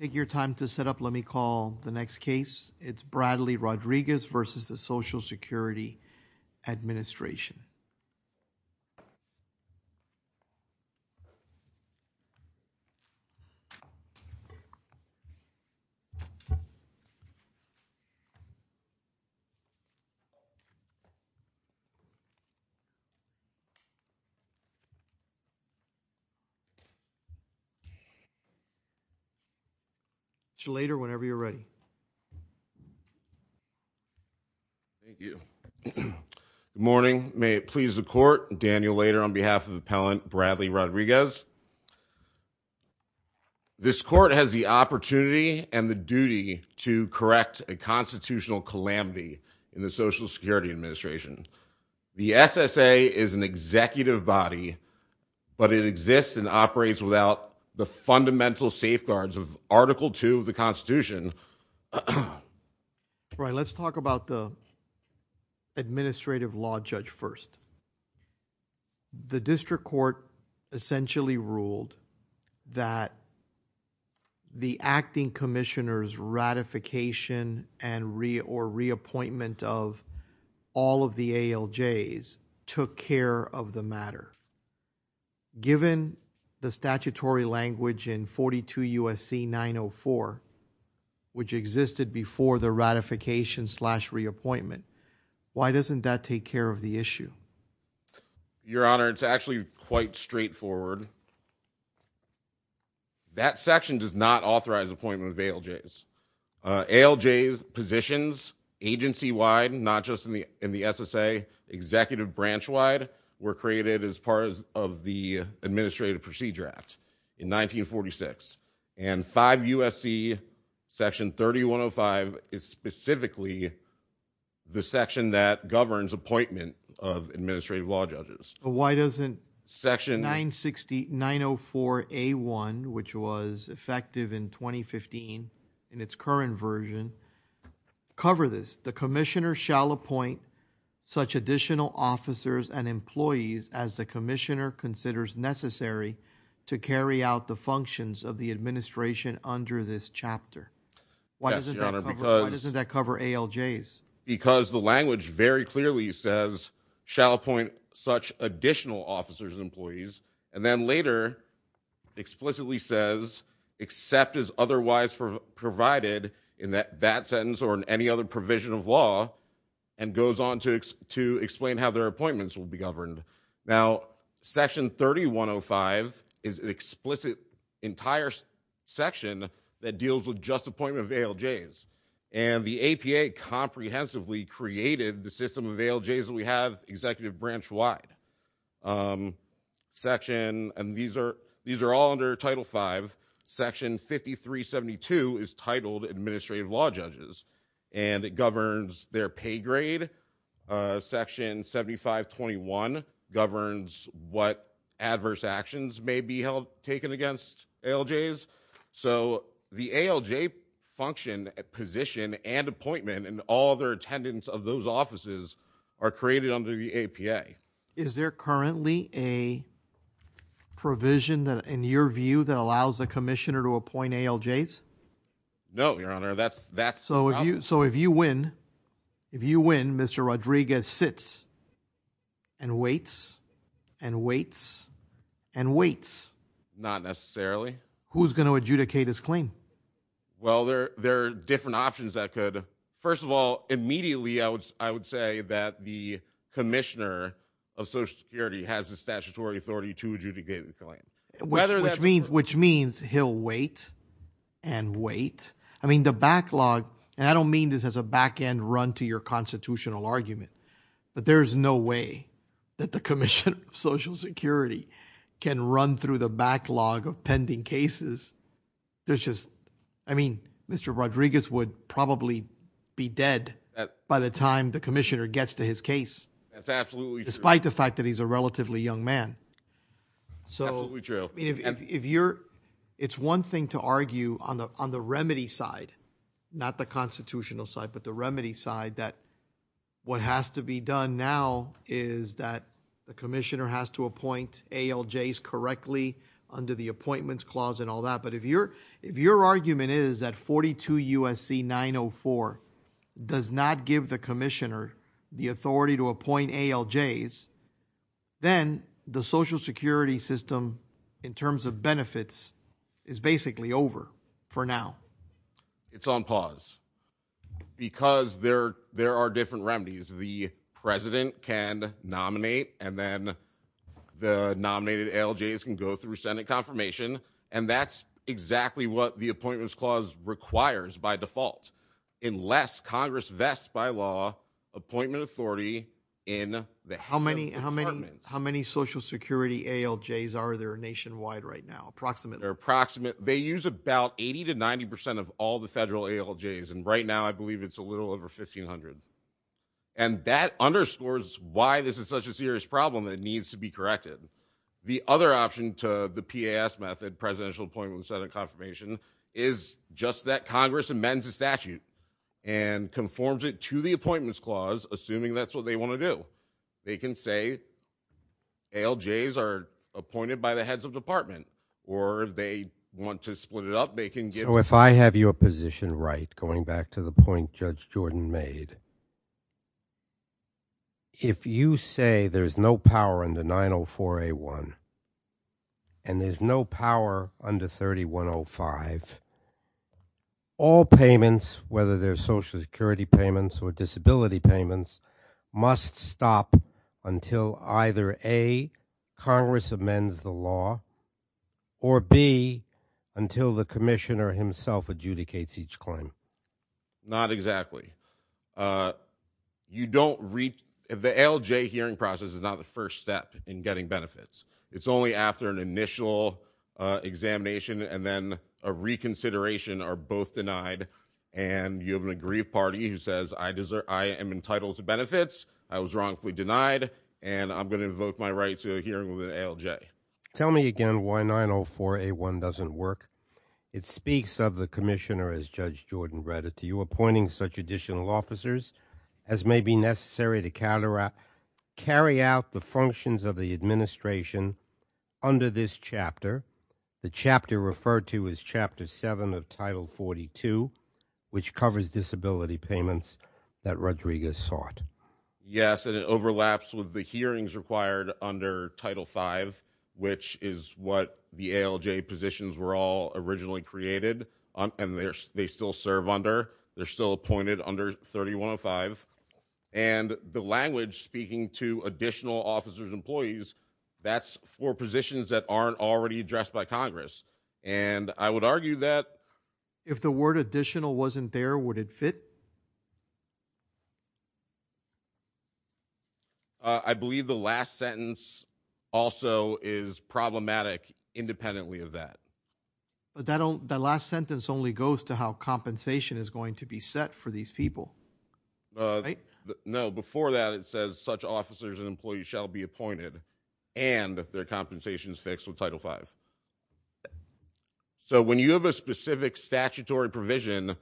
Take your time to set up. Let me call the next case. It's Bradley Rodriguez v. Social Security Administration. Good morning. May it please the court, Daniel Lader on behalf of Appellant Bradley Rodriguez. This court has the opportunity and the duty to correct a constitutional calamity in the Social Security Administration. The SSA is an executive body, but it exists and operates without the fundamental safeguards of Article 2 of the Constitution. Let's talk about the Administrative Law Judge first. The District Court essentially ruled that the Acting Commissioner's ratification and reappointment of all of the ALJs took care of the matter. Given the statutory language in 42 U.S.C. 904, which existed before the ratification slash reappointment, why doesn't that take care of the issue? Your Honor, it's actually quite straightforward. That section does not authorize appointment of ALJs. ALJ positions agency-wide, not just in the SSA, executive branch-wide, were created as part of the Administrative Procedure Act in 1946. And 5 U.S.C. section 3105 is specifically the section that governs appointment of Administrative Law Judges. Why doesn't section 904A1, which was effective in 2015 in its current version, cover this? The Commissioner shall appoint such additional officers and employees as the Commissioner considers necessary to carry out the functions of the Administration under this chapter. Why doesn't that cover ALJs? Because the language very clearly says, shall appoint such additional officers and employees, and then later explicitly says, except as otherwise provided in that sentence or in any other provision of law, and goes on to explain how their appointments will be governed. Now, section 3105 is an explicit entire section that deals with just appointment of ALJs. And the APA comprehensively created the system of ALJs that we have executive branch-wide. Section, and these are all under Title V, section 5372 is titled Administrative Law Judges. And it governs their pay grade. Section 7521 governs what adverse actions may be taken against ALJs. So the ALJ function, position, and appointment, and all their attendance of those offices are created under the APA. Is there currently a provision in your view that allows the Commissioner to appoint ALJs? No, Your Honor, that's not. So if you win, if you win, Mr. Rodriguez sits and waits and waits and waits. Not necessarily. Who's going to adjudicate his claim? Well, there are different options that could. First of all, immediately I would say that the Commissioner of Social Security has the statutory authority to adjudicate the claim. Which means he'll wait and wait. I mean, the backlog, and I don't mean this as a back-end run to your constitutional argument, but there's no way that the Commissioner of Social Security can run through the backlog of pending cases. There's just, I mean, Mr. Rodriguez would probably be dead by the time the Commissioner gets to his case. That's absolutely true. Despite the fact that he's a relatively young man. Absolutely true. It's one thing to argue on the remedy side, not the constitutional side, but the remedy side, that what has to be done now is that the Commissioner has to appoint ALJs correctly under the Appointments Clause and all that. But if your argument is that 42 U.S.C. 904 does not give the Commissioner the authority to appoint ALJs, then the Social Security system in terms of benefits is basically over for now. It's on pause. Because there are different remedies. The President can nominate, and then the nominated ALJs can go through Senate confirmation, and that's exactly what the Appointments Clause requires by default. Unless Congress vests by law appointment authority in the head of departments. How many Social Security ALJs are there nationwide right now, approximately? They're approximate. They use about 80 to 90 percent of all the federal ALJs, and right now I believe it's a little over 1,500. And that underscores why this is such a serious problem that needs to be corrected. The other option to the PAS method, Presidential Appointment with Senate Confirmation, is just that Congress amends the statute and conforms it to the Appointments Clause, assuming that's what they want to do. They can say ALJs are appointed by the heads of department, or if they want to split it up, they can get... So if I have your position right, going back to the point Judge Jordan made, if you say there's no power under 904A1 and there's no power under 3105, all payments, whether they're Social Security payments or disability payments, must stop until either A, Congress amends the law, or B, until the commissioner himself adjudicates each claim. Not exactly. The ALJ hearing process is not the first step in getting benefits. It's only after an initial examination and then a reconsideration are both denied, and you have an aggrieved party who says, I am entitled to benefits, I was wrongfully denied, and I'm going to invoke my right to a hearing with an ALJ. Tell me again why 904A1 doesn't work. It speaks of the commissioner, as Judge Jordan read it to you, appointing such additional officers as may be necessary to carry out the functions of the administration under this chapter, the chapter referred to as Chapter 7 of Title 42, which covers disability payments that Rodriguez sought. Yes, and it overlaps with the hearings required under Title 5, which is what the ALJ positions were all originally created, and they still serve under, they're still appointed under 3105, and the language speaking to additional officers and employees, that's for positions that aren't already addressed by Congress, and I would argue that If the word additional wasn't there, would it fit? I believe the last sentence also is problematic independently of that. But that last sentence only goes to how compensation is going to be set for these people, right? No, before that, it says such officers and employees shall be appointed and their compensations fixed with Title 5. So when you have a specific statutory provision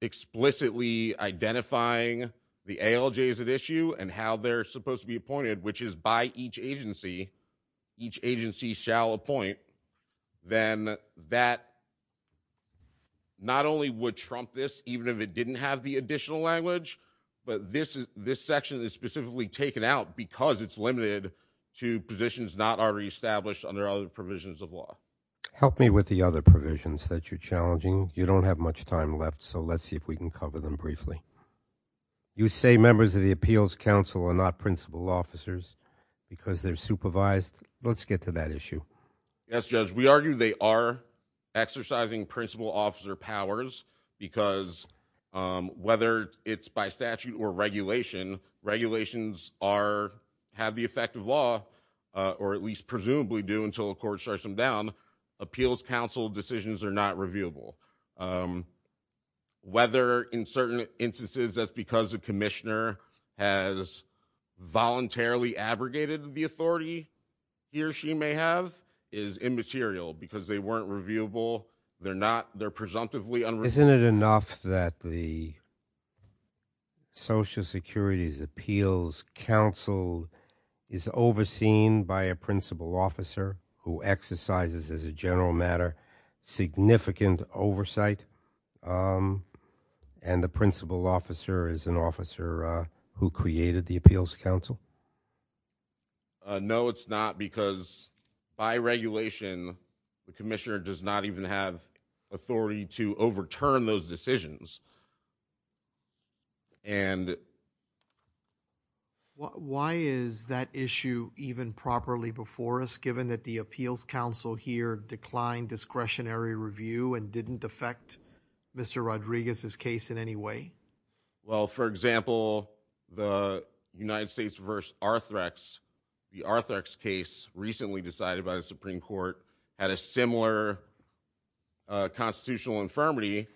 explicitly identifying the ALJs at issue and how they're supposed to be appointed, which is by each agency, each agency shall appoint, then that not only would trump this even if it didn't have the additional language, but this section is specifically taken out because it's limited to positions not already established under other provisions of law. Help me with the other provisions that you're challenging. You don't have much time left, so let's see if we can cover them briefly. You say members of the Appeals Council are not principal officers because they're supervised. Let's get to that issue. Yes, Judge. We argue they are exercising principal officer powers because whether it's by statute or regulation, regulations have the effect of law, or at least presumably do until a court strikes them down. Appeals Council decisions are not reviewable. Whether in certain instances that's because a commissioner has voluntarily abrogated the authority he or she may have is immaterial because they weren't reviewable. They're presumptively unreviewable. Isn't it enough that the Social Security's Appeals Council is overseen by a principal officer who exercises, as a general matter, significant oversight, and the principal officer is an officer who created the Appeals Council? No, it's not because by regulation, the commissioner does not even have authority to overturn those decisions. Why is that issue even properly before us, given that the Appeals Council here declined discretionary review and didn't affect Mr. Rodriguez's case in any way? Well, for example, the United States v. Arthrex, the Arthrex case recently decided by the Supreme Court, had a similar constitutional infirmity,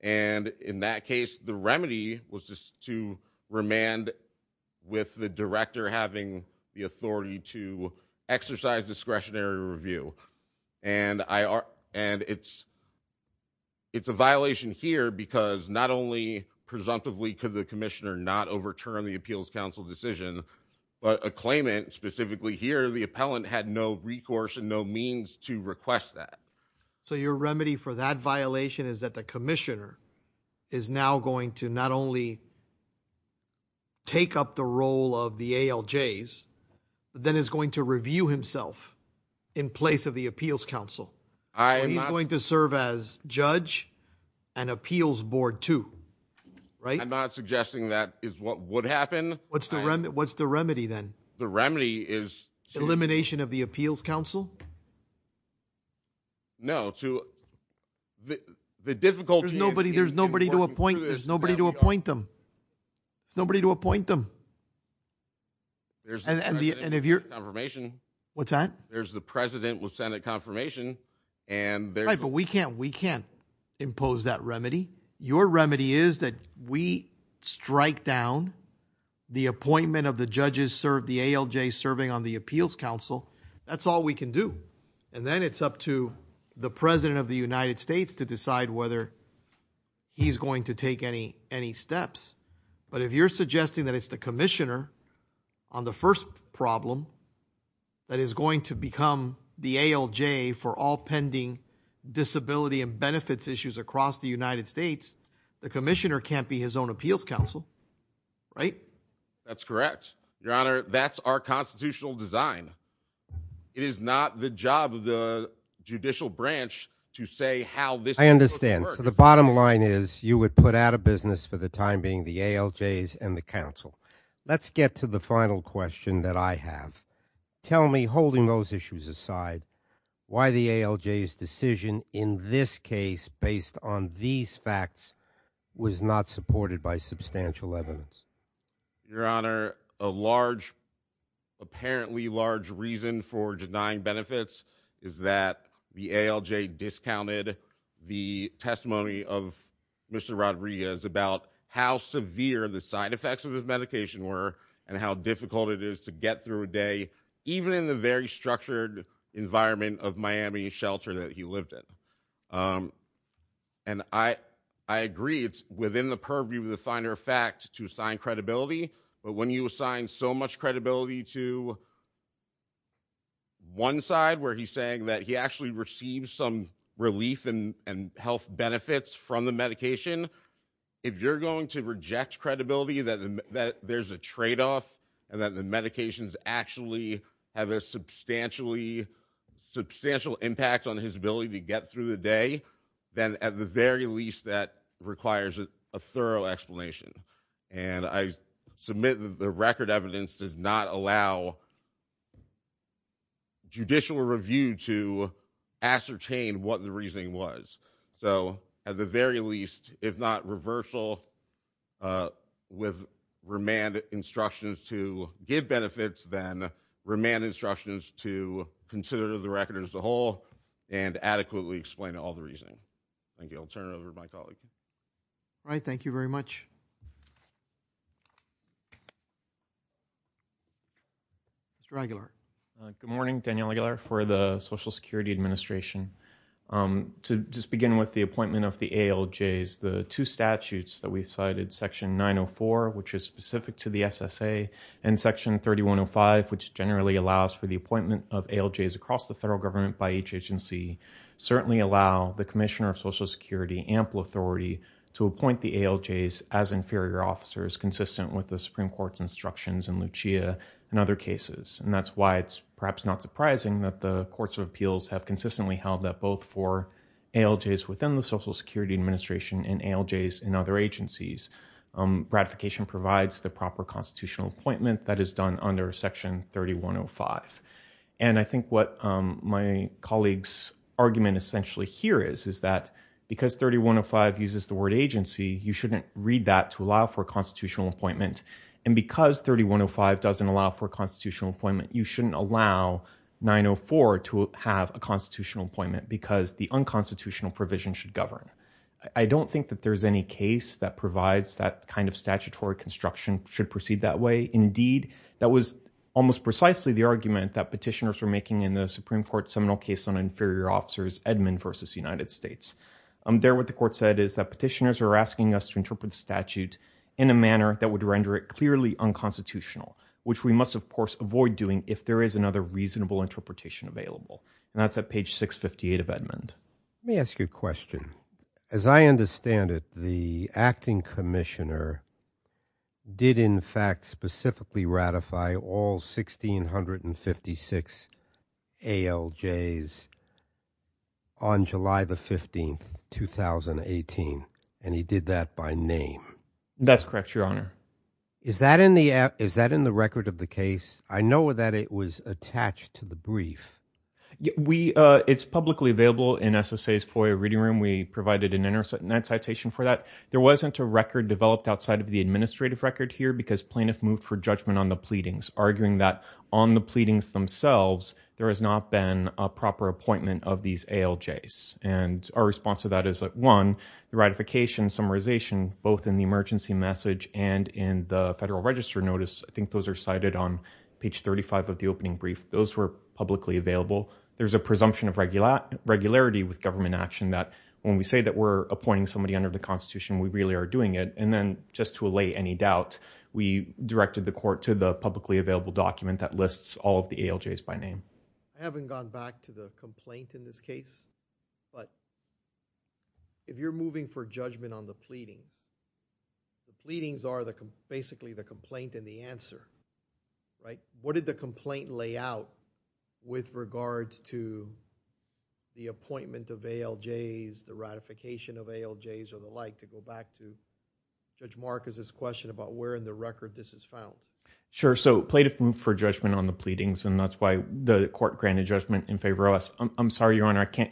and in that case, the remedy was just to remand with the director having the authority to exercise discretionary review. And it's a violation here because not only, presumptively, could the commissioner not overturn the Appeals Council decision, but a claimant, specifically here, the appellant, had no recourse and no means to request that. So your remedy for that violation is that the commissioner is now going to not only take up the role of the ALJs, but then is going to review himself in place of the Appeals Council. He's going to serve as judge and appeals board too, right? I'm not suggesting that is what would happen. What's the remedy then? The remedy is... Elimination of the Appeals Council? No, to... There's nobody to appoint them. There's nobody to appoint them. There's the president with Senate confirmation. What's that? There's the president with Senate confirmation. Right, but we can't impose that remedy. Your remedy is that we strike down the appointment of the judges served, the ALJs serving on the Appeals Council. That's all we can do. And then it's up to the president of the United States to decide whether he's going to take any steps. But if you're suggesting that it's the commissioner on the first problem that is going to become the ALJ for all pending disability and benefits issues across the United States, the commissioner can't be his own Appeals Council, right? That's correct. Your Honor, that's our constitutional design. It is not the job of the judicial branch to say how this... I understand. So the bottom line is you would put out of business for the time being the ALJs and the council. Let's get to the final question that I have. Tell me, holding those issues aside, why the ALJ's decision in this case based on these facts was not supported by substantial evidence. Your Honor, a large, apparently large reason for denying benefits is that the ALJ discounted the testimony of Mr. Rodriguez about how severe the side effects of his medication were and how difficult it is to get through a day, even in the very structured environment of Miami shelter that he lived in. And I agree it's within the purview of the finer fact to assign credibility. But when you assign so much credibility to one side where he's saying that he actually received some relief and health benefits from the medication, if you're going to reject credibility that there's a trade-off and that the medications actually have a substantial impact on his ability to get through the day, then at the very least that requires a thorough explanation. And I submit that the record evidence does not allow judicial review to ascertain what the reasoning was. So at the very least, if not reversal with remand instructions to give benefits, then remand instructions to consider the record as a whole and adequately explain all the reasoning. Thank you. I'll turn it over to my colleague. All right. Thank you very much. Mr. Aguilar. Good morning. Daniel Aguilar for the Social Security Administration. To just begin with the appointment of the ALJs, the two statutes that we've cited, Section 904, which is specific to the SSA, and Section 3105, which generally allows for the appointment of ALJs across the federal government by each agency, certainly allow the Commissioner of Social Security ample authority to appoint the ALJs as inferior officers, consistent with the Supreme Court's instructions in Lucia and other cases. And that's why it's perhaps not surprising that the courts of appeals have consistently held that both for ALJs within the Social Security Administration and ALJs in other agencies. Ratification provides the proper constitutional appointment that is done under Section 3105. And I think what my colleague's argument essentially here is, is that because 3105 uses the word agency, you shouldn't read that to allow for a constitutional appointment. And because 3105 doesn't allow for a constitutional appointment, you shouldn't allow 904 to have a constitutional appointment because the unconstitutional provision should govern. I don't think that there's any case that provides that kind of statutory construction should proceed that way. Indeed, that was almost precisely the argument that petitioners were making in the Supreme Court's seminal case on inferior officers, Edmund v. United States. There, what the court said is that petitioners are asking us to interpret the statute in a manner that would render it clearly unconstitutional, which we must, of course, avoid doing if there is another reasonable interpretation available. And that's at page 658 of Edmund. Let me ask you a question. As I understand it, the acting commissioner did, in fact, specifically ratify all 1656 ALJs on July the 15th, 2018. And he did that by name. That's correct, Your Honor. Is that in the record of the case? I know that it was attached to the brief. It's publicly available in SSA's FOIA Reading Room. We provided an internet citation for that. There wasn't a record developed outside of the administrative record here because plaintiffs moved for judgment on the pleadings, arguing that on the pleadings themselves, there has not been a proper appointment of these ALJs. And our response to that is that, one, the ratification, summarization, both in the emergency message and in the Federal Register Notice, I think those are cited on page 35 of the opening brief, those were publicly available. There's a presumption of regularity with government action that when we say that we're appointing somebody under the Constitution, we really are doing it. And then just to allay any doubt, we directed the court to the publicly available document that lists all of the ALJs by name. I haven't gone back to the complaint in this case, but if you're moving for judgment on the pleadings, the pleadings are basically the complaint and the answer. What did the complaint lay out with regards to the appointment of ALJs, the ratification of ALJs, or the like, to go back to Judge Marcus's question about where in the record this is found? Sure, so plaintiffs moved for judgment on the pleadings, and that's why the court granted judgment in favor of us. I'm sorry, Your Honor, I can't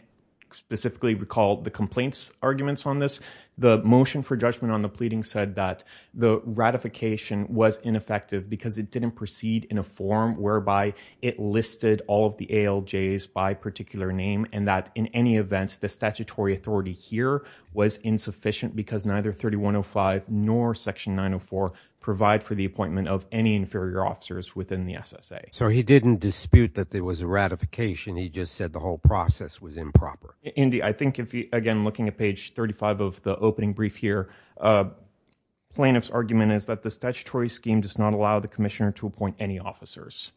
specifically recall the complaint's arguments on this. The motion for judgment on the pleadings said that the ratification was ineffective because it didn't proceed in a form whereby it listed all of the ALJs by particular name and that in any event, the statutory authority here was insufficient because neither 3105 nor Section 904 provide for the appointment of any inferior officers within the SSA. So he didn't dispute that there was a ratification. He just said the whole process was improper. Indy, I think, again, looking at page 35 of the opening brief here, plaintiff's argument is that the statutory scheme does not allow the commissioner to appoint any officers,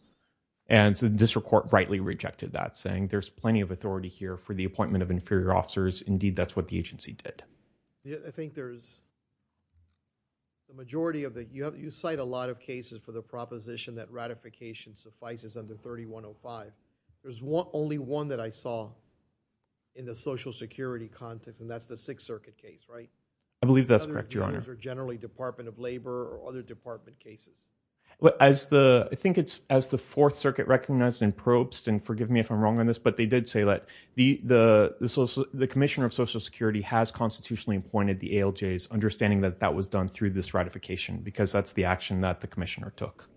and so the district court rightly rejected that saying there's plenty of authority here for the appointment of inferior officers. Indeed, that's what the agency did. I think there's a majority of it. You cite a lot of cases for the proposition that ratification suffices under 3105. There's only one that I saw in the Social Security context, and that's the Sixth Circuit case, right? I believe that's correct, Your Honor. Others are generally Department of Labor or other department cases. I think it's as the Fourth Circuit recognized in Probst, and forgive me if I'm wrong on this, but they did say that the commissioner of Social Security has constitutionally appointed the ALJs, understanding that that was done through this ratification because that's the action that the commissioner took.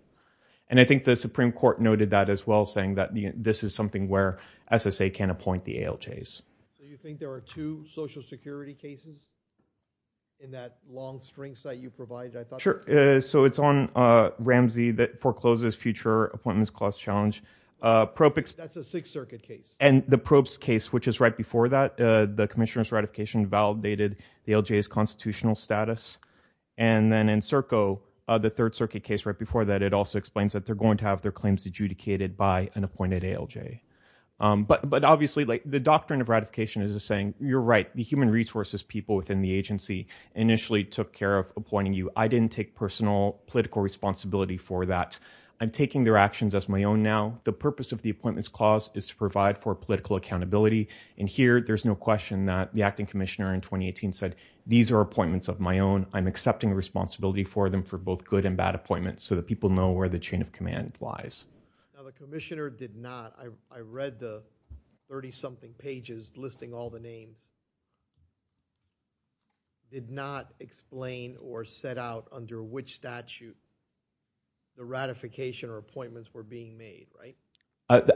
And I think the Supreme Court noted that as well, saying that this is something where SSA can appoint the ALJs. So you think there are two Social Security cases in that long string that you provided? Sure. So it's on Ramsey that forecloses future appointments clause challenge. That's a Sixth Circuit case. And the Probst case, which is right before that, the commissioner's ratification validated the ALJ's constitutional status. And then in Serco, the Third Circuit case right before that, it also explains that they're going to have their claims adjudicated by an appointed ALJ. But obviously, the doctrine of ratification is saying, you're right, the human resources people within the agency initially took care of appointing you. I didn't take personal political responsibility for that. I'm taking their actions as my own now. The purpose of the appointments clause is to provide for political accountability. And here, there's no question that the acting commissioner in 2018 said, these are appointments of my own. I'm accepting responsibility for them for both good and bad appointments so that people know where the chain of command lies. Now, the commissioner did not. I read the 30-something pages listing all the names. Did not explain or set out under which statute the ratification or appointments were being made, right?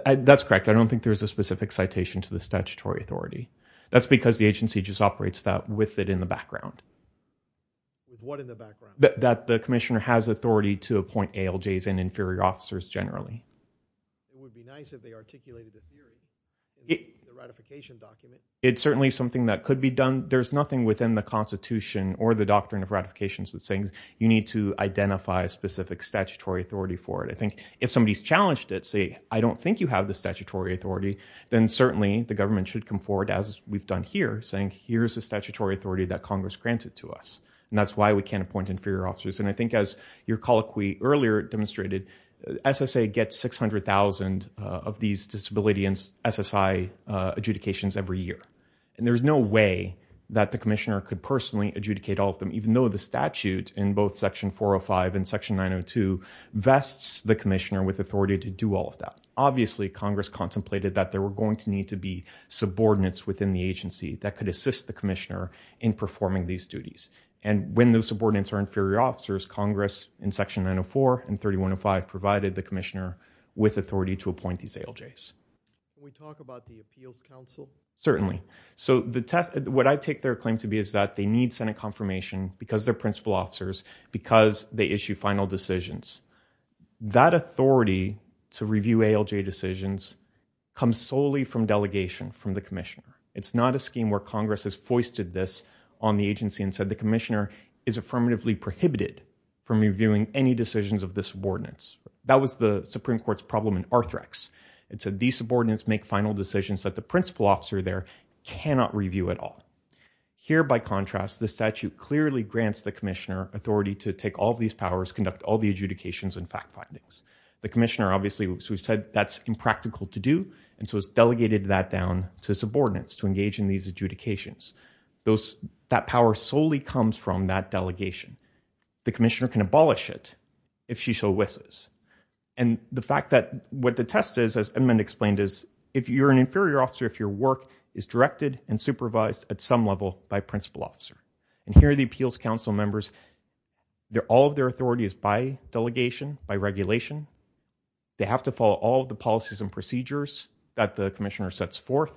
That's correct. I don't think there's a specific citation to the statutory authority. That's because the agency just operates that with it in the background. With what in the background? That the commissioner has authority to appoint ALJs and inferior officers generally. It would be nice if they articulated the theory in the ratification document. It's certainly something that could be done. There's nothing within the Constitution or the doctrine of ratification that's saying you need to identify a specific statutory authority for it. I think if somebody's challenged it, say, I don't think you have the statutory authority, then certainly the government should come forward, as we've done here, saying here's the statutory authority that Congress granted to us. And that's why we can't appoint inferior officers. And I think as your colloquy earlier demonstrated, SSA gets 600,000 of these disability and SSI adjudications every year. And there's no way that the commissioner could personally adjudicate all of them, even though the statute in both Section 405 and Section 902 vests the commissioner with authority to do all of that. Obviously, Congress contemplated that there were going to need to be subordinates within the agency that could assist the commissioner in performing these duties. And when those subordinates are inferior officers, Congress in Section 904 and 3105 provided the commissioner with authority to appoint these ALJs. Can we talk about the Appeals Council? Certainly. So what I take their claim to be is that they need Senate confirmation because they're principal officers, because they issue final decisions. That authority to review ALJ decisions comes solely from delegation from the commissioner. It's not a scheme where Congress has foisted this on the agency and said the commissioner is affirmatively prohibited from reviewing any decisions of the subordinates. That was the Supreme Court's problem in Arthrex. It said these subordinates make final decisions that the principal officer there cannot review at all. Here, by contrast, the statute clearly grants the commissioner authority to take all of these powers, conduct all the adjudications and fact findings. The commissioner obviously said that's impractical to do, and so it's delegated that down to subordinates to engage in these adjudications. That power solely comes from that delegation. The commissioner can abolish it if she so wishes. And the fact that what the test is, as Edmund explained, is if you're an inferior officer, if your work is directed and supervised at some level by a principal officer. And here are the Appeals Council members. All of their authority is by delegation, by regulation. They have to follow all of the policies and procedures that the commissioner sets forth.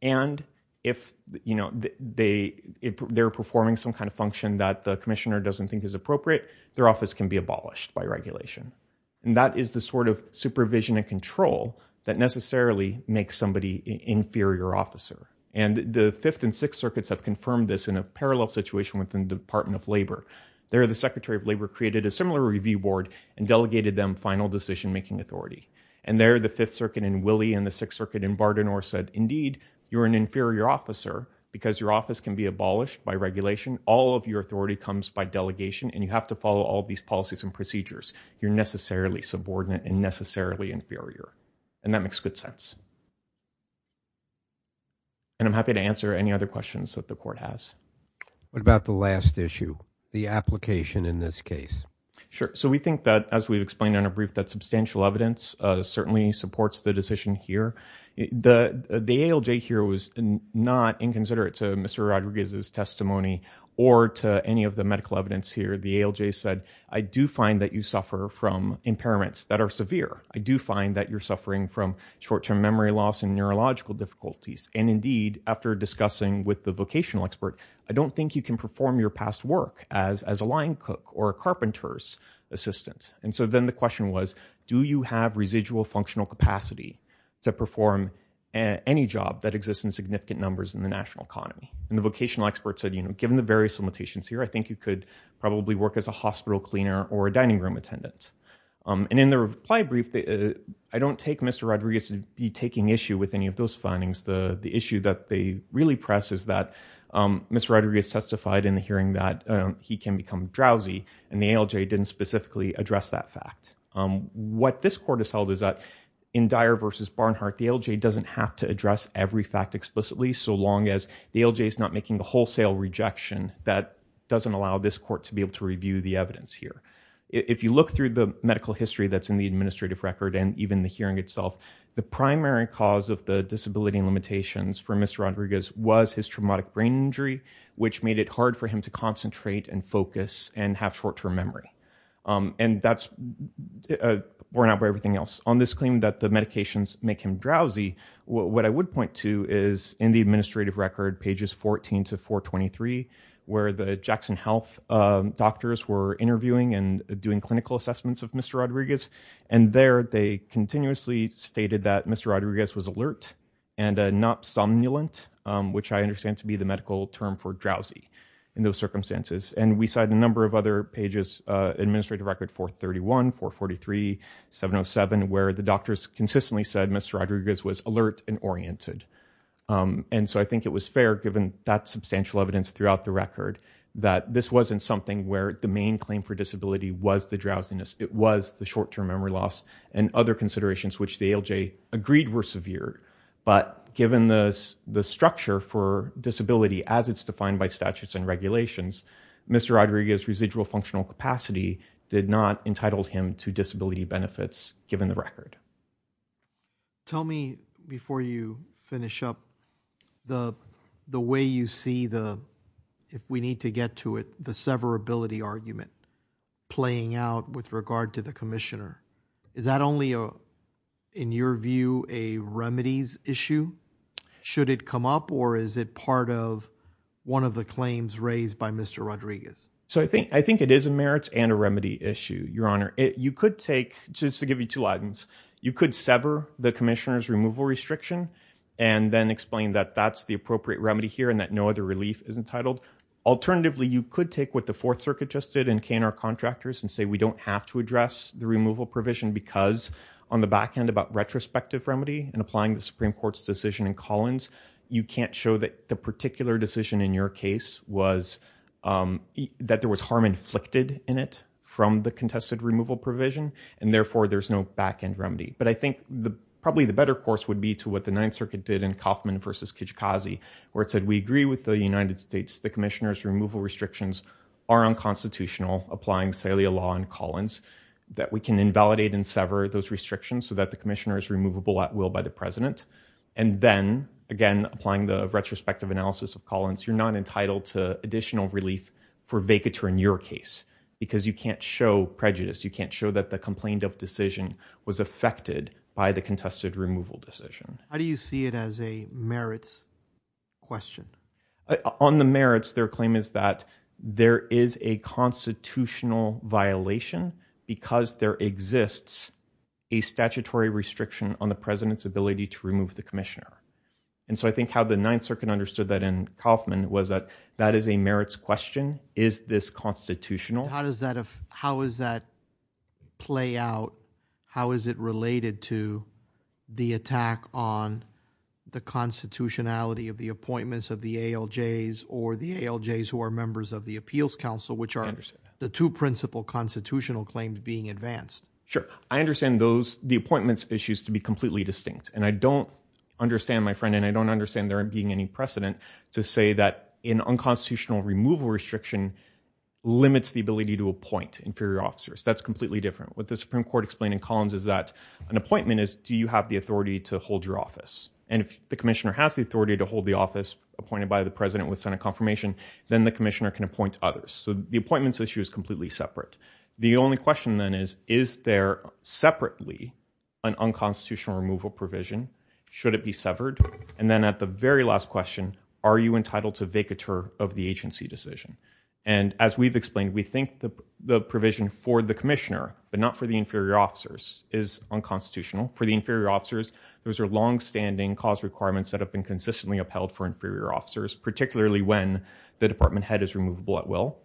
And if they're performing some kind of function that the commissioner doesn't think is appropriate, their office can be abolished by regulation. And that is the sort of supervision and control that necessarily makes somebody an inferior officer. And the Fifth and Sixth Circuits have confirmed this in a parallel situation within the Department of Labor. There, the Secretary of Labor created a similar review board and delegated them final decision-making authority. And there, the Fifth Circuit in Willey and the Sixth Circuit in Bardenor said, indeed, you're an inferior officer because your office can be abolished by regulation. All of your authority comes by delegation, and you have to follow all of these policies and procedures. You're necessarily subordinate and necessarily inferior. And that makes good sense. And I'm happy to answer any other questions that the Court has. What about the last issue, the application in this case? Sure. So we think that, as we've explained in our brief, that substantial evidence certainly supports the decision here. The ALJ here was not inconsiderate to Mr. Rodriguez's testimony or to any of the medical evidence here. The ALJ said, I do find that you suffer from impairments that are severe. I do find that you're suffering from short-term memory loss and neurological difficulties. And indeed, after discussing with the vocational expert, I don't think you can perform your past work as a line cook or a carpenter's assistant. And so then the question was, do you have residual functional capacity to perform any job that exists in significant numbers in the national economy? And the vocational expert said, given the various limitations here, I think you could probably work as a hospital cleaner or a dining room attendant. And in the reply brief, I don't take Mr. Rodriguez to be taking issue with any of those findings. The issue that they really press is that Mr. Rodriguez testified in the hearing that he can become drowsy, and the ALJ didn't specifically address that fact. What this court has held is that in Dyer v. Barnhart, the ALJ doesn't have to address every fact explicitly so long as the ALJ is not making the wholesale rejection that doesn't allow this court to be able to review the evidence here. If you look through the medical history that's in the administrative record and even the hearing itself, the primary cause of the disability limitations for Mr. Rodriguez was his traumatic brain injury, which made it hard for him to concentrate and focus and have short-term memory. And that's borne out by everything else. On this claim that the medications make him drowsy, what I would point to is in the administrative record, pages 14 to 423, where the Jackson Health doctors were interviewing and doing clinical assessments of Mr. Rodriguez, and there they continuously stated that Mr. Rodriguez was alert and not somnolent, which I understand to be the medical term for drowsy in those circumstances. And we cite a number of other pages, administrative record 431, 443, 707, where the doctors consistently said Mr. Rodriguez was alert and oriented. And so I think it was fair, given that substantial evidence throughout the record, that this wasn't something where the main claim for disability was the drowsiness, it was the short-term memory loss and other considerations which the ALJ agreed were severe. But given the structure for disability, as it's defined by statutes and regulations, Mr. Rodriguez's residual functional capacity did not entitle him to disability benefits, given the record. Tell me, before you finish up, the way you see the, if we need to get to it, the severability argument playing out with regard to the commissioner. Is that only, in your view, a remedies issue? Should it come up or is it part of one of the claims raised by Mr. Rodriguez? So I think it is a merits and a remedy issue, Your Honor. You could take, just to give you two lines, you could sever the commissioner's removal restriction and then explain that that's the appropriate remedy here and that no other relief is entitled. Alternatively, you could take what the Fourth Circuit just did in K&R Contractors and say we don't have to address the removal provision because on the back end about retrospective remedy and applying the Supreme Court's decision in Collins, you can't show that the particular decision in your case was that there was harm inflicted in it from the contested removal provision, and therefore there's no back-end remedy. But I think probably the better course would be to what the Ninth Circuit did in Kauffman v. Kijikazi, where it said we agree with the United States, the commissioner's removal restrictions are unconstitutional applying Salia law in Collins, that we can invalidate and sever those restrictions so that the commissioner is removable at will by the president, and then, again, applying the retrospective analysis of Collins, you're not entitled to additional relief for vacatur in your case because you can't show prejudice, you can't show that the complained of decision was affected by the contested removal decision. How do you see it as a merits question? On the merits, their claim is that there is a constitutional violation because there exists a statutory restriction on the president's ability to remove the commissioner. And so I think how the Ninth Circuit understood that in Kauffman was that that is a merits question. Is this constitutional? How does that play out? How is it related to the attack on the constitutionality of the appointments of the ALJs or the ALJs who are members of the Appeals Council, which are the two principal constitutional claims being advanced? Sure. I understand the appointments issues to be completely distinct. And I don't understand, my friend, and I don't understand there being any precedent to say that an unconstitutional removal restriction limits the ability to appoint inferior officers. That's completely different. What the Supreme Court explained in Collins is that an appointment is, do you have the authority to hold your office? And if the commissioner has the authority to hold the office appointed by the president with Senate confirmation, then the commissioner can appoint others. So the appointments issue is completely separate. The only question then is, is there separately an unconstitutional removal provision? Should it be severed? And then at the very last question, are you entitled to vacatur of the agency decision? And as we've explained, we think the provision for the commissioner, but not for the inferior officers, is unconstitutional. For the inferior officers, those are longstanding cause requirements that have been consistently upheld for inferior officers, particularly when the department head is removable at will.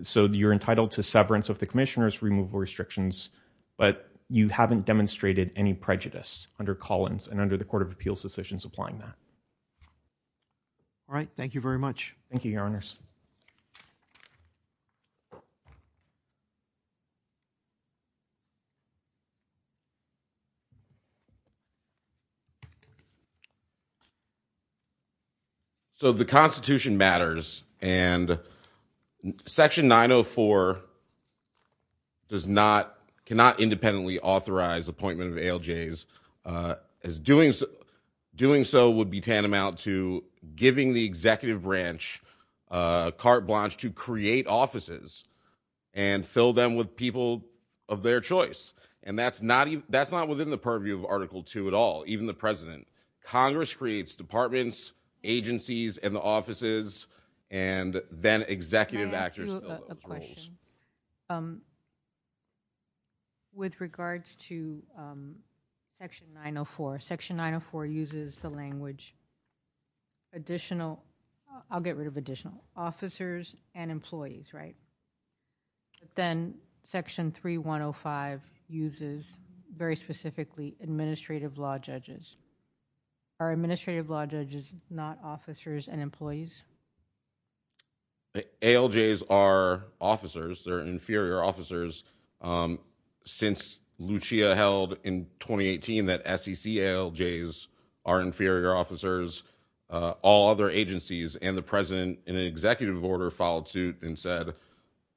So you're entitled to severance of the commissioner's removable restrictions, but you haven't demonstrated any prejudice under Collins and under the Court of Appeals decisions applying that. All right. Thank you very much. Thank you, Your Honors. So the Constitution matters, and Section 904 does not, cannot independently authorize appointment of ALJs. Doing so would be tantamount to giving the executive branch carte blanche to create offices and fill them with people of their choice. And that's not within the purview of Article 2 at all, even the president. Congress creates departments, agencies, and the offices, and then executive actors fill those roles. Can I ask you a question? With regards to Section 904, Section 904 uses the language additional, I'll get rid of additional, officers and employees, right? Then Section 3105 uses, very specifically, administrative law judges. Are administrative law judges not officers and employees? ALJs are officers. They're inferior officers. Since Lucia held in 2018 that SEC ALJs are inferior officers, all other agencies and the president in an executive order filed suit and said,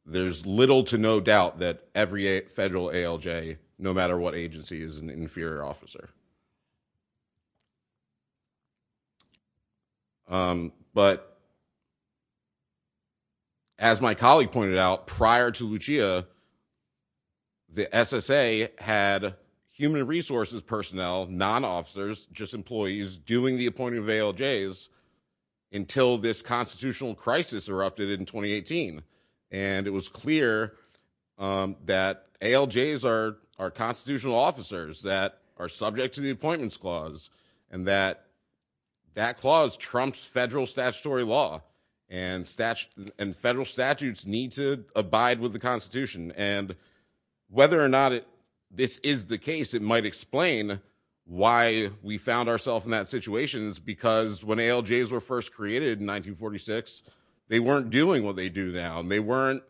there's little to no doubt that every federal ALJ, no matter what agency, is an inferior officer. But as my colleague pointed out, prior to Lucia, the SSA had human resources personnel, non-officers, just employees, doing the appointing of ALJs until this constitutional crisis erupted in 2018. And it was clear that ALJs are constitutional officers that are subject to the Appointments Clause and that that clause trumps federal statutory law and federal statutes need to abide with the Constitution. And whether or not this is the case, it might explain why we found ourselves in that situation because when ALJs were first created in 1946, they weren't doing what they do now. They weren't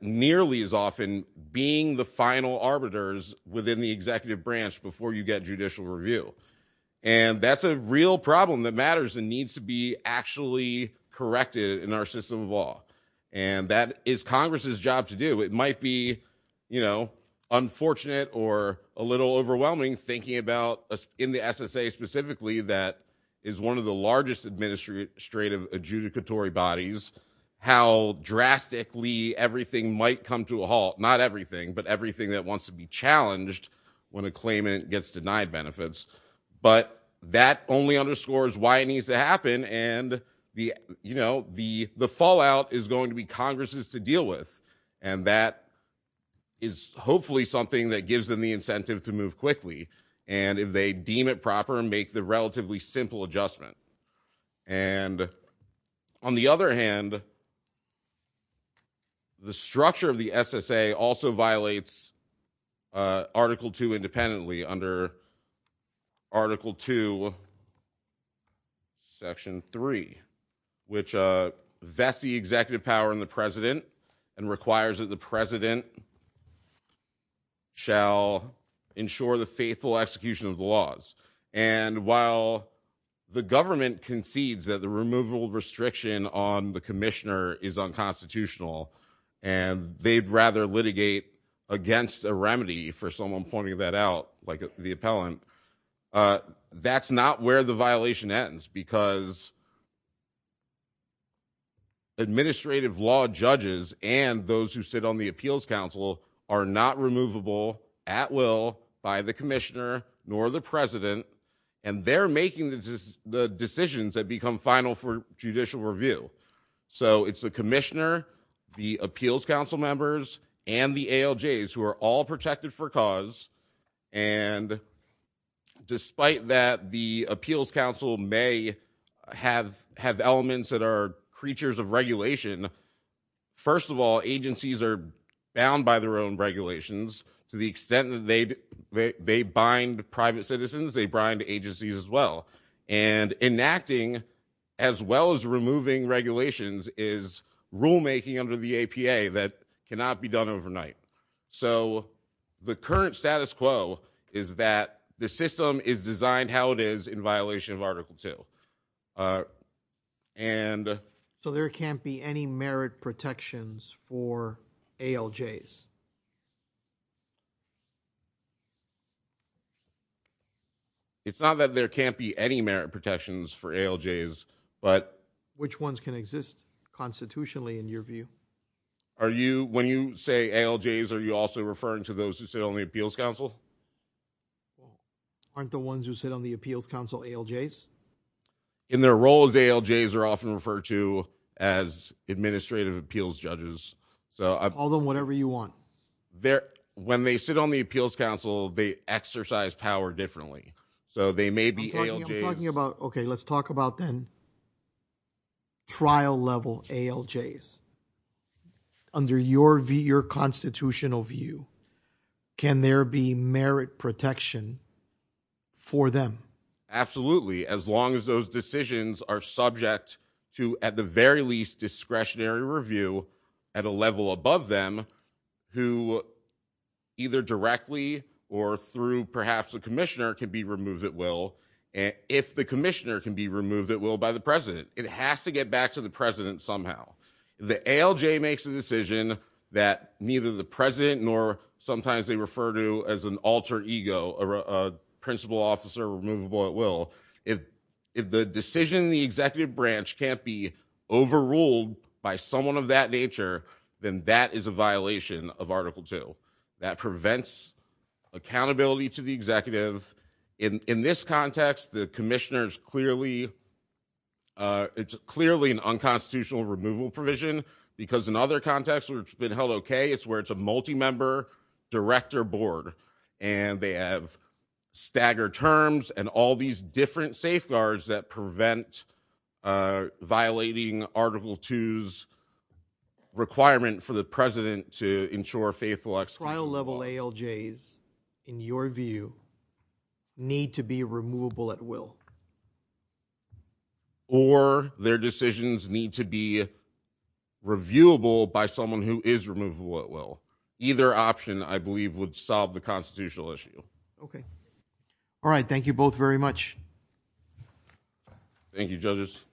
nearly as often being the final arbiters within the executive branch before you get judicial review. And that's a real problem that matters and needs to be actually corrected in our system of law. And that is Congress's job to do. It might be unfortunate or a little overwhelming thinking about, in the SSA specifically, that is one of the largest administrative adjudicatory bodies, how drastically everything might come to a halt. Not everything, but everything that wants to be challenged when a claimant gets denied benefits. But that only underscores why it needs to happen. And the fallout is going to be Congress's to deal with. And that is hopefully something that gives them the incentive to move quickly. And if they deem it proper and make the relatively simple adjustment. And on the other hand, the structure of the SSA also violates Article 2 independently under Article 2, Section 3, which vests the executive power in the president and requires that the president shall ensure the faithful execution of the laws. And while the government concedes that the removal of restriction on the commissioner is unconstitutional and they'd rather litigate against a remedy, for someone pointing that out, like the appellant, that's not where the violation ends because administrative law judges and those who sit on the Appeals Council are not removable at will by the commissioner nor the president. And they're making the decisions that become final for judicial review. So it's the commissioner, the Appeals Council members, and the ALJs who are all protected for cause. And despite that the Appeals Council may have elements that are creatures of regulation, first of all, agencies are bound by their own regulations to the extent that they bind private citizens, they bind agencies as well. And enacting as well as removing regulations is rulemaking under the APA that cannot be done overnight. So the current status quo is that the system is designed how it is in violation of Article 2. So there can't be any merit protections for ALJs? It's not that there can't be any merit protections for ALJs, but... Which ones can exist constitutionally in your view? When you say ALJs, are you also referring to those who sit on the Appeals Council? Aren't the ones who sit on the Appeals Council ALJs? In their roles, ALJs are often referred to as administrative appeals judges. Call them whatever you want. When they sit on the Appeals Council, they exercise power differently. So they may be ALJs. I'm talking about... OK, let's talk about then trial-level ALJs. Under your constitutional view, can there be merit protection for them? Absolutely, as long as those decisions are subject to, at the very least, discretionary review at a level above them, who either directly or through perhaps a commissioner can be removed at will. If the commissioner can be removed at will by the president, it has to get back to the president somehow. If the ALJ makes a decision that neither the president nor sometimes they refer to as an alter ego, a principal officer removable at will, if the decision in the executive branch can't be overruled by someone of that nature, then that is a violation of Article 2. That prevents accountability to the executive. In this context, the commissioner's clearly... It's clearly an unconstitutional removal provision because in other contexts where it's been held OK, it's where it's a multi-member director board and they have staggered terms and all these different safeguards that prevent violating Article 2's requirement for the president to ensure faithful... ...trial-level ALJs, in your view, need to be removable at will. Or their decisions need to be reviewable by someone who is removable at will. Either option, I believe, would solve the constitutional issue. OK. All right, thank you both very much. Thank you, judges.